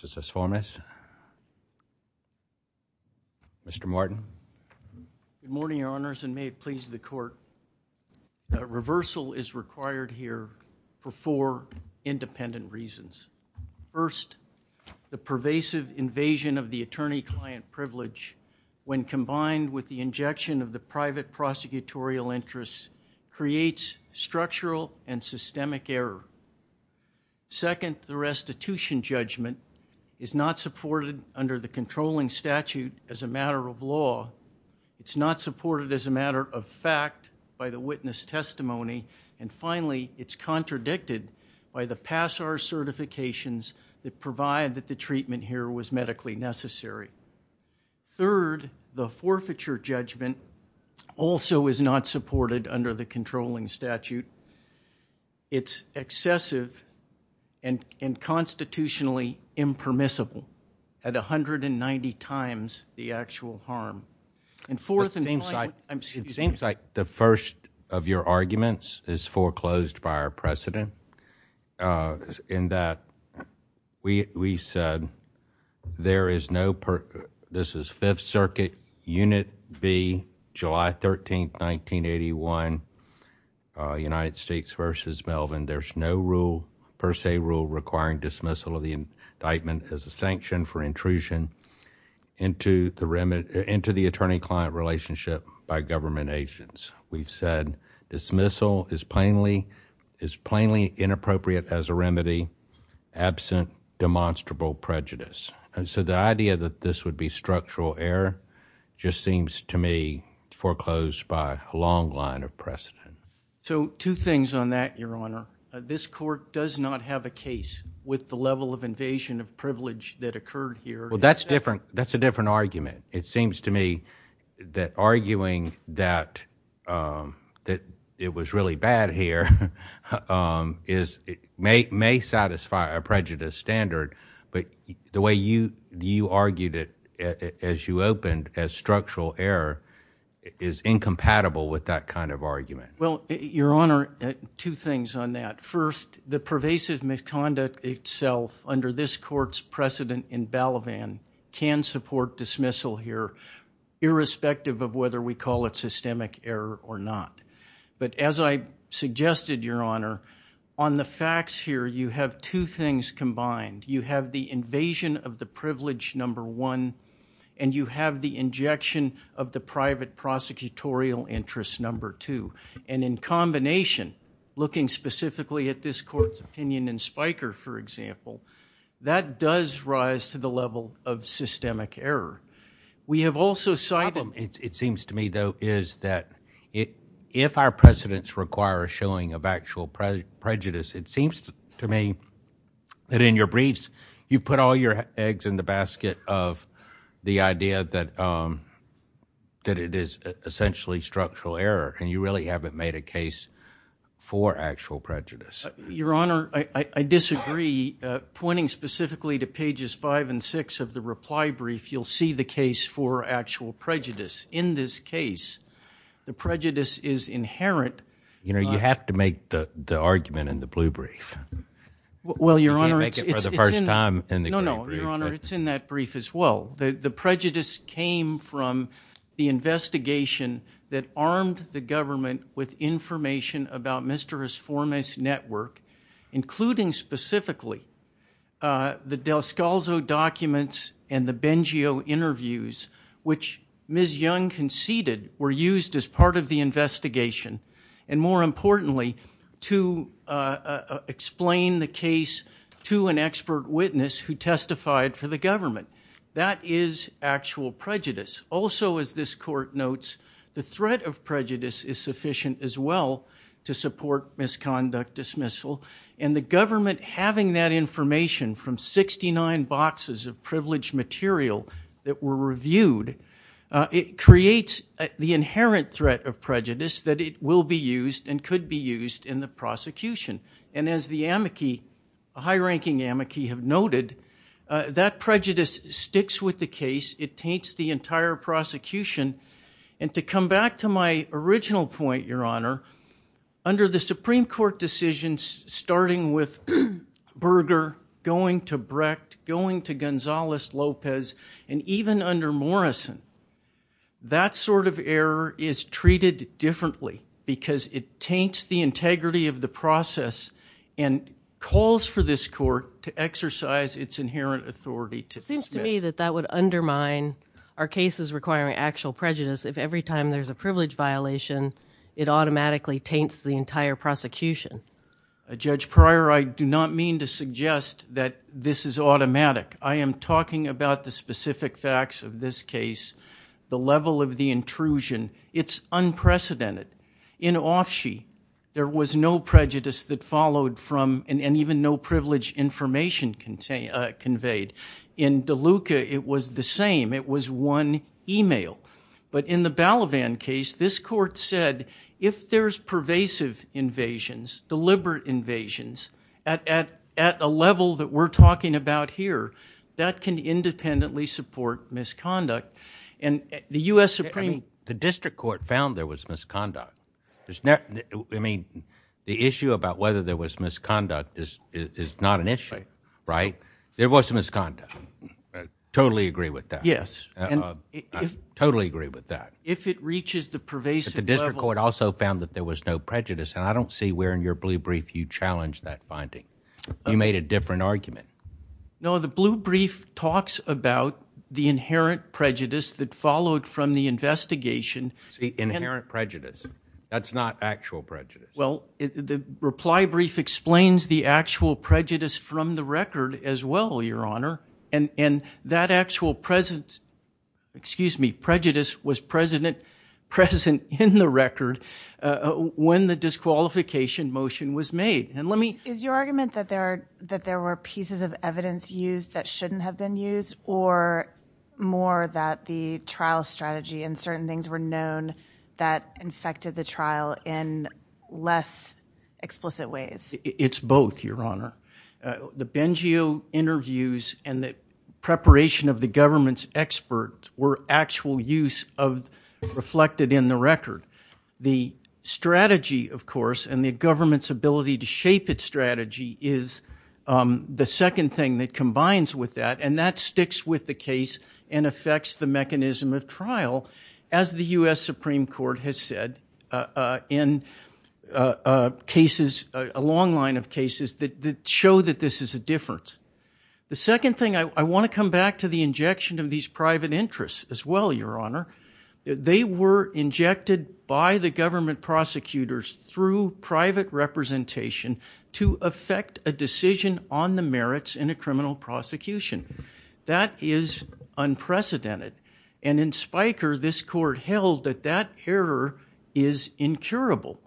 Mr. Martin. Good morning, Your Honors, and may it please the Court. Reversal is required here for four independent reasons. First, the pervasive invasion of the attorney-client privilege, when combined with the injection of the private is not supported under the controlling statute as a matter of law. It's not supported as a matter of fact by the witness testimony. And finally, it's contradicted by the PASAR certifications that provide that the treatment here was medically necessary. Third, the forfeiture judgment also is not supported under the controlling statute. It's excessive and constitutionally impermissible at 190 times the actual harm. It seems like the first of your arguments is foreclosed by our precedent, in that we said there is no, this is Fifth Circuit Unit B, July 13, 1981, United States v. Melvin, there's no rule, per se rule, requiring dismissal of the indictment as a sanction for intrusion into the attorney-client relationship by government agents. We've said dismissal is plainly inappropriate as a remedy, absent demonstrable prejudice. And so the idea that this would be structural error just seems to me foreclosed by a long line of precedent. So two things on that, Your Honor. This Court does not have a case with the level of invasion of privilege that occurred here. Well, that's different. That's a different argument. It seems to me that arguing that it was really bad here may satisfy a prejudice standard, but the way you argued it as you opened as structural error is incompatible with that kind of argument. Well, Your Honor, two things on that. First, the pervasive misconduct itself under this Court's precedent in Balavan can support dismissal here, irrespective of whether we call it systemic error or not. But as I suggested, Your Honor, on the facts here, you have two things combined. You have the invasion of the privilege, number one, and you have the injection of the private prosecutorial interest, number two. And in combination, looking specifically at this Court's opinion in Spiker, for example, that does rise to the level of systemic error. We have also cited— The problem, it seems to me, though, is that if our precedents require a showing of actual prejudice, it seems to me that in your briefs you've put all your eggs in the basket of the idea that it is essentially structural error, and you really haven't made a case for actual prejudice. Your Honor, I disagree. Pointing specifically to pages five and six of the reply brief, you'll see the case for actual prejudice. In this case, the prejudice is inherent— You know, you have to make the argument in the blue brief. Well, Your Honor, it's— No, no, Your Honor, it's in that brief as well. The prejudice came from the investigation that armed the government with information about Mr. Resforma's network, including specifically the Del Scalzo documents and the Bengio interviews, which Ms. Young conceded were used as part of the investigation, and more importantly, to explain the case to an expert witness who testified for the government. That is actual prejudice. Also, as this Court notes, the threat of prejudice is sufficient as well to support misconduct dismissal, and the government having that information from 69 boxes of privileged material that were reviewed, it creates the inherent threat of prejudice that it will be used and as the amici, high-ranking amici have noted, that prejudice sticks with the case. It taints the entire prosecution. And to come back to my original point, Your Honor, under the Supreme Court decisions starting with Berger, going to Brecht, going to Gonzales-Lopez, and even under Morrison, that sort of error is treated differently because it taints the integrity of the process and calls for this Court to exercise its inherent authority to dismiss. It seems to me that that would undermine our cases requiring actual prejudice if every time there's a privilege violation, it automatically taints the entire prosecution. Judge Pryor, I do not mean to suggest that this is automatic. I am talking about the specific facts of this case, the level of the intrusion. It's unprecedented. In Offshea, there was no prejudice that followed from, and even no privileged information conveyed. In DeLuca, it was the same. It was one email. But in the Balavan case, this Court said, if there's pervasive invasions, deliberate invasions, at a level that we're talking about here, that can independently support misconduct. And the U.S. Supreme Court... The issue about whether there was misconduct is not an issue, right? There was some misconduct. Totally agree with that. Yes. Totally agree with that. If it reaches the pervasive level... But the District Court also found that there was no prejudice, and I don't see where in your blue brief you challenged that finding. You made a different argument. No, the blue brief talks about the inherent prejudice that followed from the investigation... Inherent prejudice. That's not actual prejudice. Well, the reply brief explains the actual prejudice from the record as well, Your Honor. And that actual presence, excuse me, prejudice was present in the record when the disqualification motion was made. And let me... Is your argument that there were pieces of evidence used that shouldn't have been used, or more that the trial strategy and certain things were known that infected the trial in less explicit ways? It's both, Your Honor. The Bengio interviews and the preparation of the government's experts were actual use of reflected in the record. The strategy, of course, and the government's ability to shape its strategy is the second thing that combines with that, and that sticks with the case and affects the mechanism of trial, as the U.S. Supreme Court has said in cases, a long line of cases that show that this is a difference. The second thing, I want to come back to the injection of these private interests as well, Your Honor. They were injected by the government prosecutors through private representation to affect a decision on the merits in a criminal prosecution. That is unprecedented. And in Spiker, this court held that that error is incurable.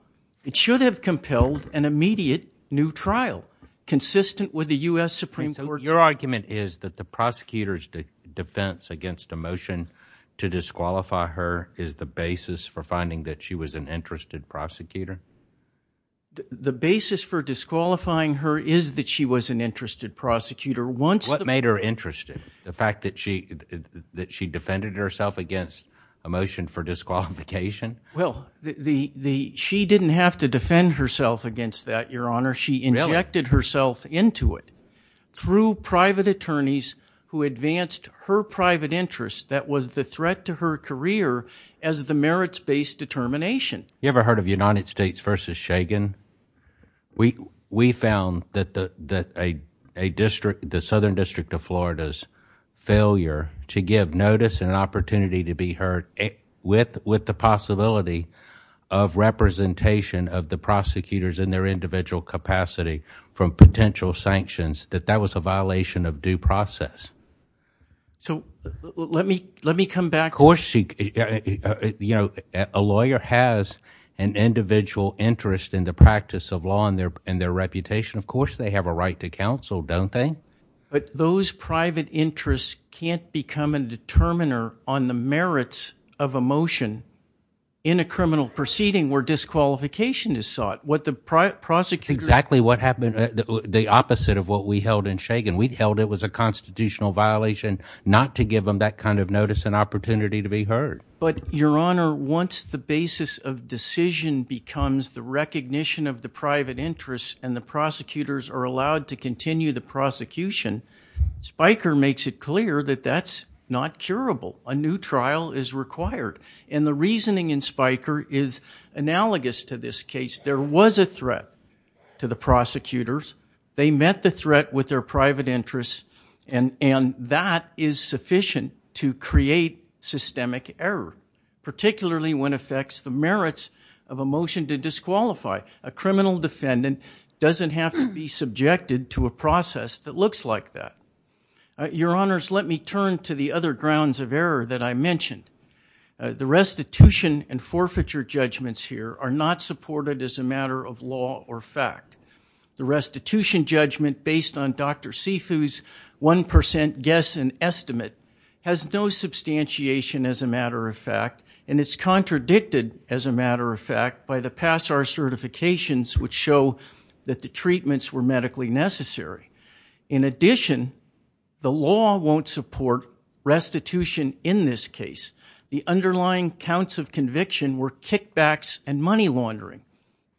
It should have compelled an immediate new trial, consistent with the U.S. Supreme Court's... So your argument is that the prosecutor's defense against a motion to disqualify her is the basis for finding that she was an interest prosecutor? The basis for disqualifying her is that she was an interested prosecutor. What made her interested? The fact that she defended herself against a motion for disqualification? Well, she didn't have to defend herself against that, Your Honor. She injected herself into it through private attorneys who advanced her private interests. That was the threat to her career as the merits-based determination. You ever heard of United States v. Shagan? We found that the Southern District of Florida's failure to give notice and an opportunity to be heard with the possibility of representation of the prosecutors in their individual capacity from potential sanctions, that that was a violation of due process. So let me come back... Of course a lawyer has an individual interest in the practice of law and their reputation. Of course they have a right to counsel, don't they? But those private interests can't become a determiner on the merits of a motion in a criminal proceeding where disqualification is sought. What the prosecutor... Exactly what happened, the opposite of what we held in Shagan. We held it was a constitutional violation not to give them that kind of notice and opportunity to be heard. But Your Honor, once the basis of decision becomes the recognition of the private interests and the prosecutors are allowed to continue the prosecution, Spiker makes it clear that that's not curable. A new trial is required. And the reasoning in Spiker is analogous to this case. There was a threat to the prosecutors. They met the threat with their private interests and that is sufficient to create systemic error, particularly when it affects the merits of a motion to disqualify. A criminal defendant doesn't have to be subjected to a process that looks like that. Your Honors, let me turn to the other grounds of error that I mentioned. The restitution and forfeiture judgments here are not supported as a matter of law or fact. The restitution judgment based on Dr. Sifu's 1% guess and estimate has no substantiation as a matter of fact and it's contradicted as a matter of fact by the Passar certifications which show that the treatments were medically necessary. In addition, the law won't support restitution in this case. The underlying counts of conviction were kickbacks and money laundering.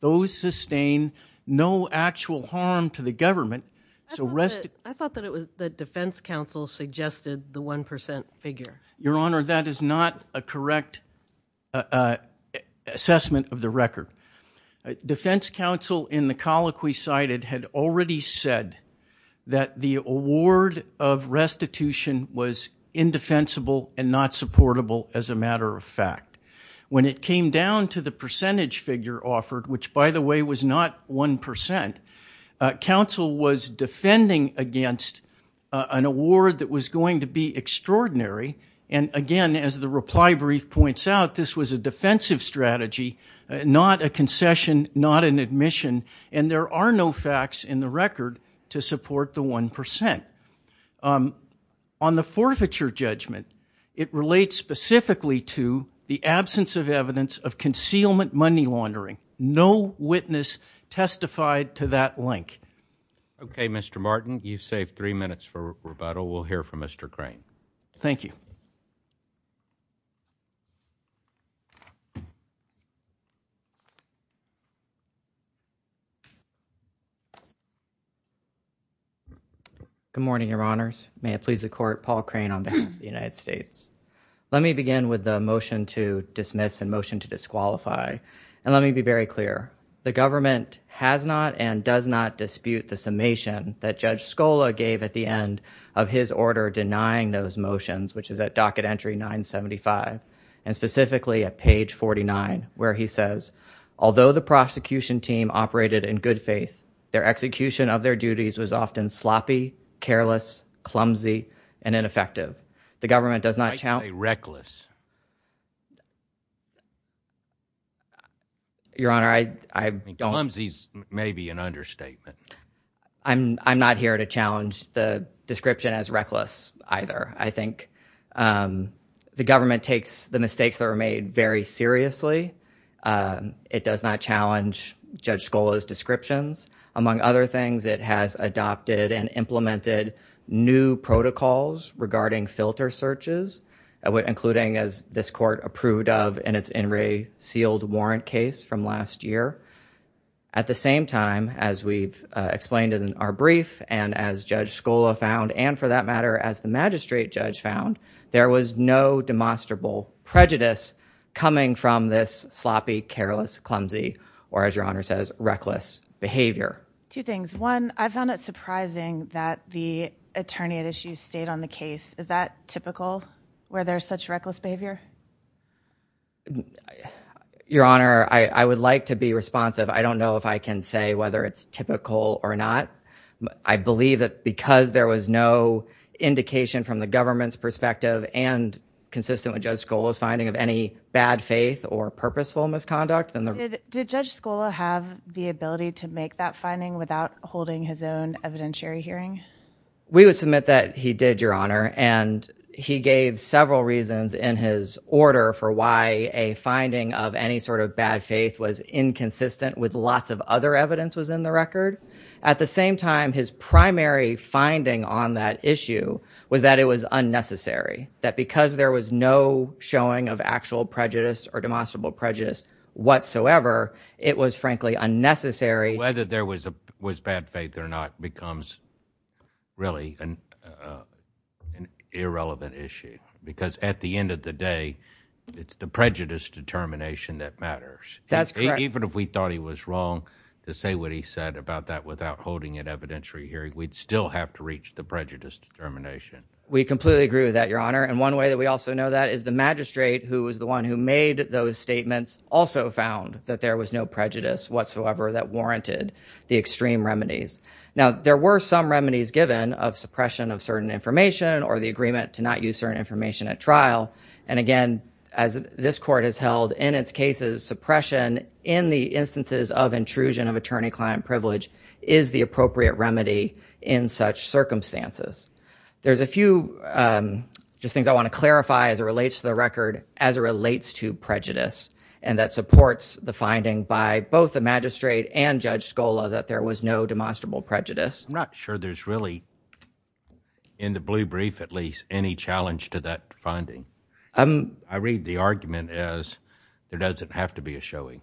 Those sustain no actual harm to the government. I thought that it was the defense counsel suggested the 1% figure. Your Honor, that is not a correct assessment of the record. Defense counsel in the colloquy cited had already said that the award of restitution was indefensible and not supportable as a result. It came down to the percentage figure offered which, by the way, was not 1%. Counsel was defending against an award that was going to be extraordinary and, again, as the reply brief points out, this was a defensive strategy, not a concession, not an admission, and there are no facts in the record to support the 1%. On the forfeiture judgment, it relates specifically to the absence of evidence of concealment money laundering. No witness testified to that link. Okay, Mr. Martin, you've saved three minutes for rebuttal. We'll hear from Mr. Crane. Thank you. Good morning, Your Honors. May it please the Court, Paul Crane on behalf of the United States. Let me begin with the motion to dismiss and motion to disqualify. Let me be very clear. The government has not and does not dispute the summation that Judge Scola gave at the end of those motions, which is at docket entry 975, and specifically at page 49, where he says, although the prosecution team operated in good faith, their execution of their duties was often sloppy, careless, clumsy, and ineffective. The government does not I say reckless. Your Honor, I don't Clumsy is maybe an understatement. I'm not here to challenge the description as reckless either. I think the government takes the mistakes that were made very seriously. It does not challenge Judge Scola's descriptions. Among other things, it has adopted and implemented new protocols regarding filter searches, including as this Court approved of in its In re Sealed Warrant case from last year. At the same time, as we've explained in our brief and as Judge Scola found, and for that matter, as the magistrate judge found, there was no demonstrable prejudice coming from this sloppy, careless, clumsy, or as Your Honor says, reckless behavior. Two things. One, I found it surprising that the attorney at issue stayed on the case. Is that typical where there's such reckless behavior? Your Honor, I would like to be responsive. I don't know if I can say whether it's typical or not. I believe that because there was no indication from the government's perspective and consistent with Judge Scola's finding of any bad faith or purposeful misconduct. Did Judge Scola have the ability to make that finding without holding his own evidentiary hearing? We would submit that he did, Your Honor. He gave several reasons in his order for why a finding of any sort of bad faith was inconsistent with lots of other evidence was in the record. At the same time, his primary finding on that issue was that it was unnecessary. That because there was no showing of actual prejudice or demonstrable prejudice whatsoever, it was frankly unnecessary. Whether there was bad faith or not becomes really an irrelevant issue because at the end of the day, it's the prejudice determination that matters. That's correct. Even if we thought he was wrong to say what he said about that without holding an evidentiary hearing, we'd still have to reach the prejudice determination. We completely agree with that, Your Honor. One way that we also know that is the magistrate who was the one who made those statements also found that there was no prejudice whatsoever that warranted the extreme remedies. Now, there were some remedies given of suppression of certain information or the agreement to not use certain information at trial. Again, as this court has held in its cases, suppression in the instances of intrusion of attorney-client privilege is the appropriate remedy in such circumstances. There's a few things I want to clarify as it relates to the record as it relates to prejudice and that supports the finding by both the magistrate and Judge Scola that there was no demonstrable prejudice. I'm not sure there's really, in the blue brief at least, any challenge to that finding. I read the argument as there doesn't have to be a showing.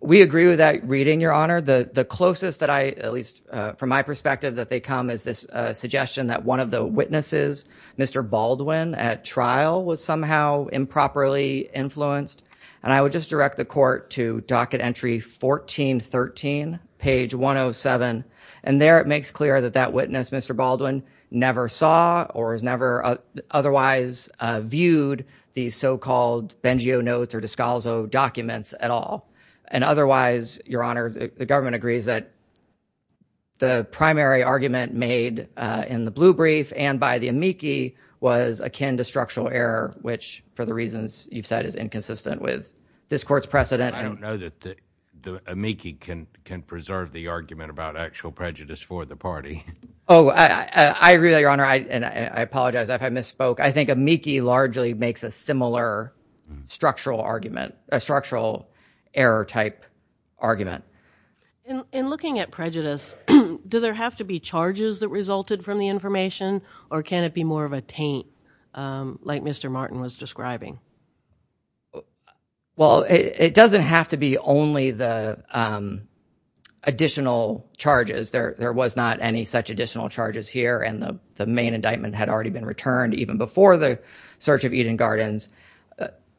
We agree with that reading, Your Honor. The closest that I, at least from my perspective, that they come is this suggestion that one of the witnesses, Mr. Baldwin, at trial was somehow improperly influenced. I would just direct the court to docket entry 1413, page 107. There, it makes clear that that witness, Mr. Baldwin, never saw or has never otherwise viewed these so-called Bengio notes or Descalzo documents at all. Otherwise, Your Honor, the government agrees that the primary argument made in the blue brief and by the amici was akin to structural error, which for the reasons you've said is inconsistent with this court's precedent. I don't know that the amici can preserve the argument about actual prejudice for the party. Oh, I agree with that, Your Honor, and I apologize if I misspoke. I think amici largely makes a similar structural argument, a structural error type argument. In looking at prejudice, do there have to be charges that resulted from the information or can it be more of a taint like Mr. Martin was describing? Well, it doesn't have to be only the additional charges. There was not any such additional charges here and the main indictment had already been returned even before the search of Eden Gardens.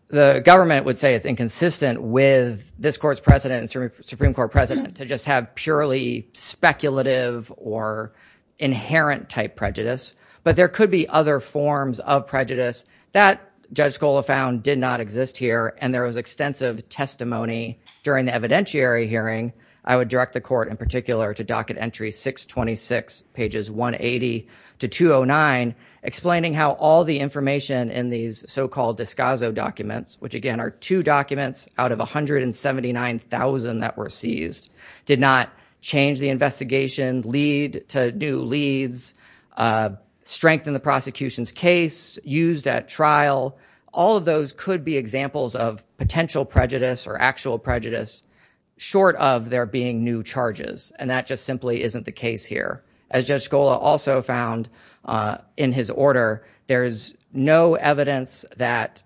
The government would say it's inconsistent with this court's precedent and Supreme Court precedent to just have purely speculative or inherent type prejudice, but there could be other forms of prejudice that Judge Scola found did not exist here and there was extensive testimony during the evidentiary hearing. I would direct the court in particular to docket entry 626, pages 180 to 209, explaining how all the information in these so-called Discasso documents, which again are two documents out of 179,000 that were seized, did not change the investigation lead to new leads, strength in the prosecution's case, used at trial, all of those could be examples of potential prejudice or actual prejudice short of there being new charges and that just simply isn't the case here. As Judge Scola also found in his order, there is no evidence that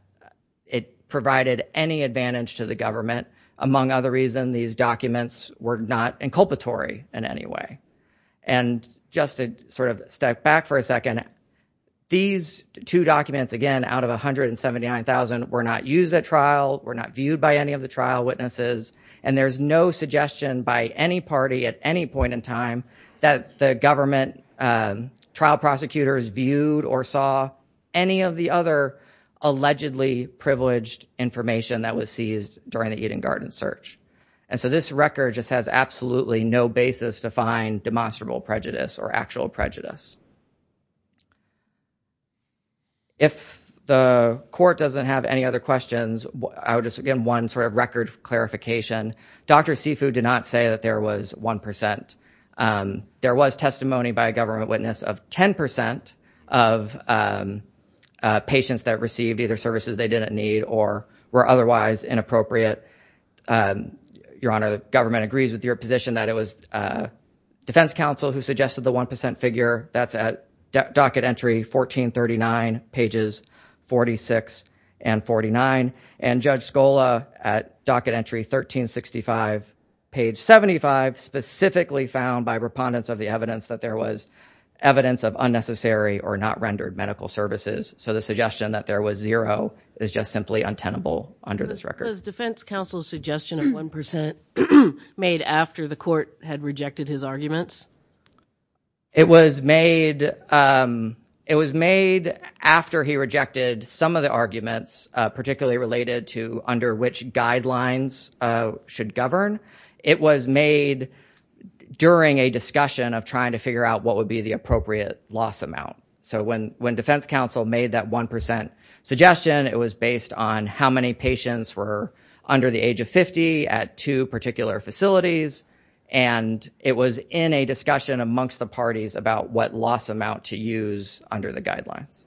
it provided any advantage to the government, among other reasons these documents were not inculpatory in any way. And just to sort of step back for a second, these two documents again out of 179,000 were not used at trial, were not viewed by any of the trial witnesses, and there's no suggestion by any party at any point in time that the government trial prosecutors viewed or saw any of the other allegedly privileged information that was seized during the Eden Garden search. And so this record just has absolutely no basis to find demonstrable prejudice or actual prejudice. If the court doesn't have any other questions, I would just, again, one sort of record clarification. Dr. Sifu did not say that there was 1%. There was testimony by a government witness of 10% of patients that received either services they didn't need or were otherwise inappropriate. Your Honor, the government agrees with your position that it was Defense Counsel who suggested the 1% figure. That's at docket entry 1439, pages 46 and 49. And Judge Scola at docket entry 1365, page 75, specifically found by repondents of the voluntary or not rendered medical services. So the suggestion that there was zero is just simply untenable under this record. Was Defense Counsel's suggestion of 1% made after the court had rejected his arguments? It was made after he rejected some of the arguments, particularly related to under which guidelines should govern. It was made during a discussion of trying to figure out what So when Defense Counsel made that 1% suggestion, it was based on how many patients were under the age of 50 at two particular facilities, and it was in a discussion amongst the parties about what loss amount to use under the guidelines.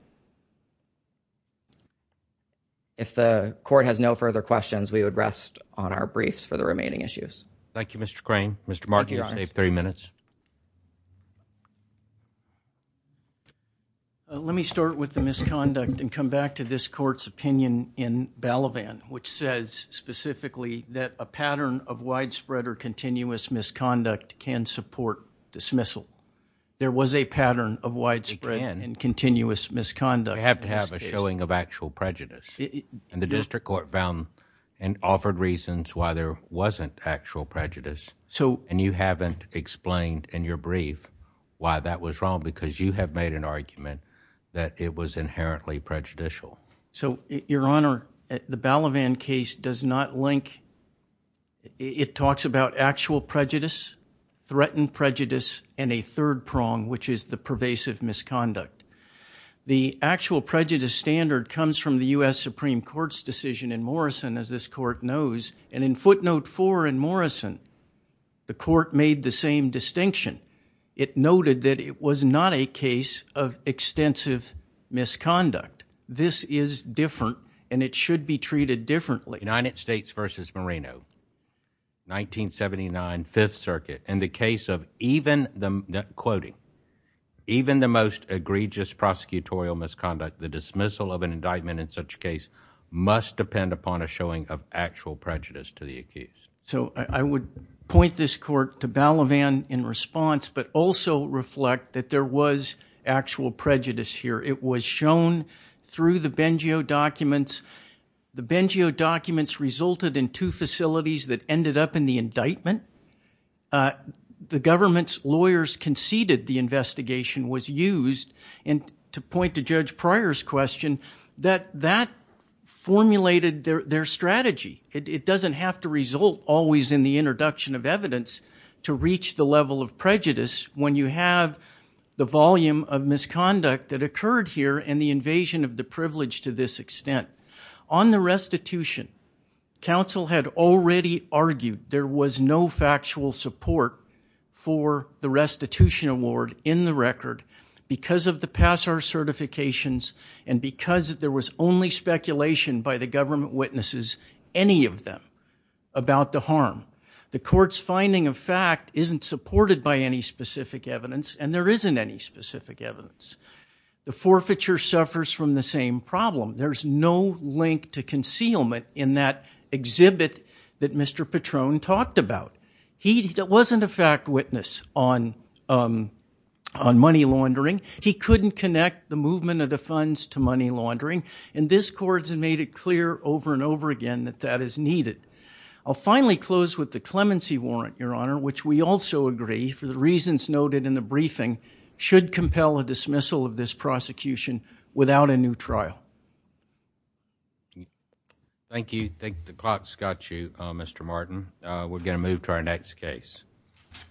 If the court has no further questions, we would rest on our briefs for the remaining issues. Thank you, Mr. Crane. Mr. Markey, you have three minutes. Let me start with the misconduct and come back to this court's opinion in Balavan, which says specifically that a pattern of widespread or continuous misconduct can support dismissal. There was a pattern of widespread and continuous misconduct. You have to have a showing of actual prejudice. And the district court found and offered reasons why there wasn't actual prejudice, and you haven't explained in your brief why that was wrong, because you have made an argument that it was inherently prejudicial. So Your Honor, the Balavan case does not link. It talks about actual prejudice, threatened prejudice, and a third prong, which is the pervasive misconduct. The actual prejudice standard comes from the U.S. Supreme Court's decision in Morrison, as this court knows. And in footnote four in Morrison, the court made the same distinction. It noted that it was not a case of extensive misconduct. This is different, and it should be treated differently. United States v. Moreno, 1979 Fifth Circuit, in the case of even the most egregious prosecutorial misconduct, the dismissal of an indictment in such a case must depend upon a showing of actual prejudice to the accused. So I would point this court to Balavan in response, but also reflect that there was actual prejudice here. It was shown through the Bengio documents. The Bengio documents resulted in two facilities that ended up in the indictment. The government's lawyers conceded the investigation was used, and to point to Judge Pryor's question, that that formulated their strategy. It doesn't have to result always in the introduction of evidence to reach the level of prejudice when you have the volume of misconduct that occurred here and the invasion of the privilege to this extent. On the restitution, counsel had already argued there was no factual support for the restitution award in the record because of the Passar certifications and because there was only speculation by the government witnesses, any of them, about the harm. The court's finding of fact isn't supported by any specific evidence, and there isn't any specific evidence. The forfeiture suffers from the same problem. There's no link to concealment in that exhibit that Mr. Patron talked about. He wasn't a fact witness on money laundering. He couldn't connect the movement of the funds to money laundering, and this court has made it clear over and over again that that is needed. I'll finally close with the clemency warrant, Your Honor, which we also agree, for the reasons noted in the briefing, should compel a dismissal of this prosecution without a new trial. Thank you. I think the clock's got you, Mr. Martin. We're going to move to our next case.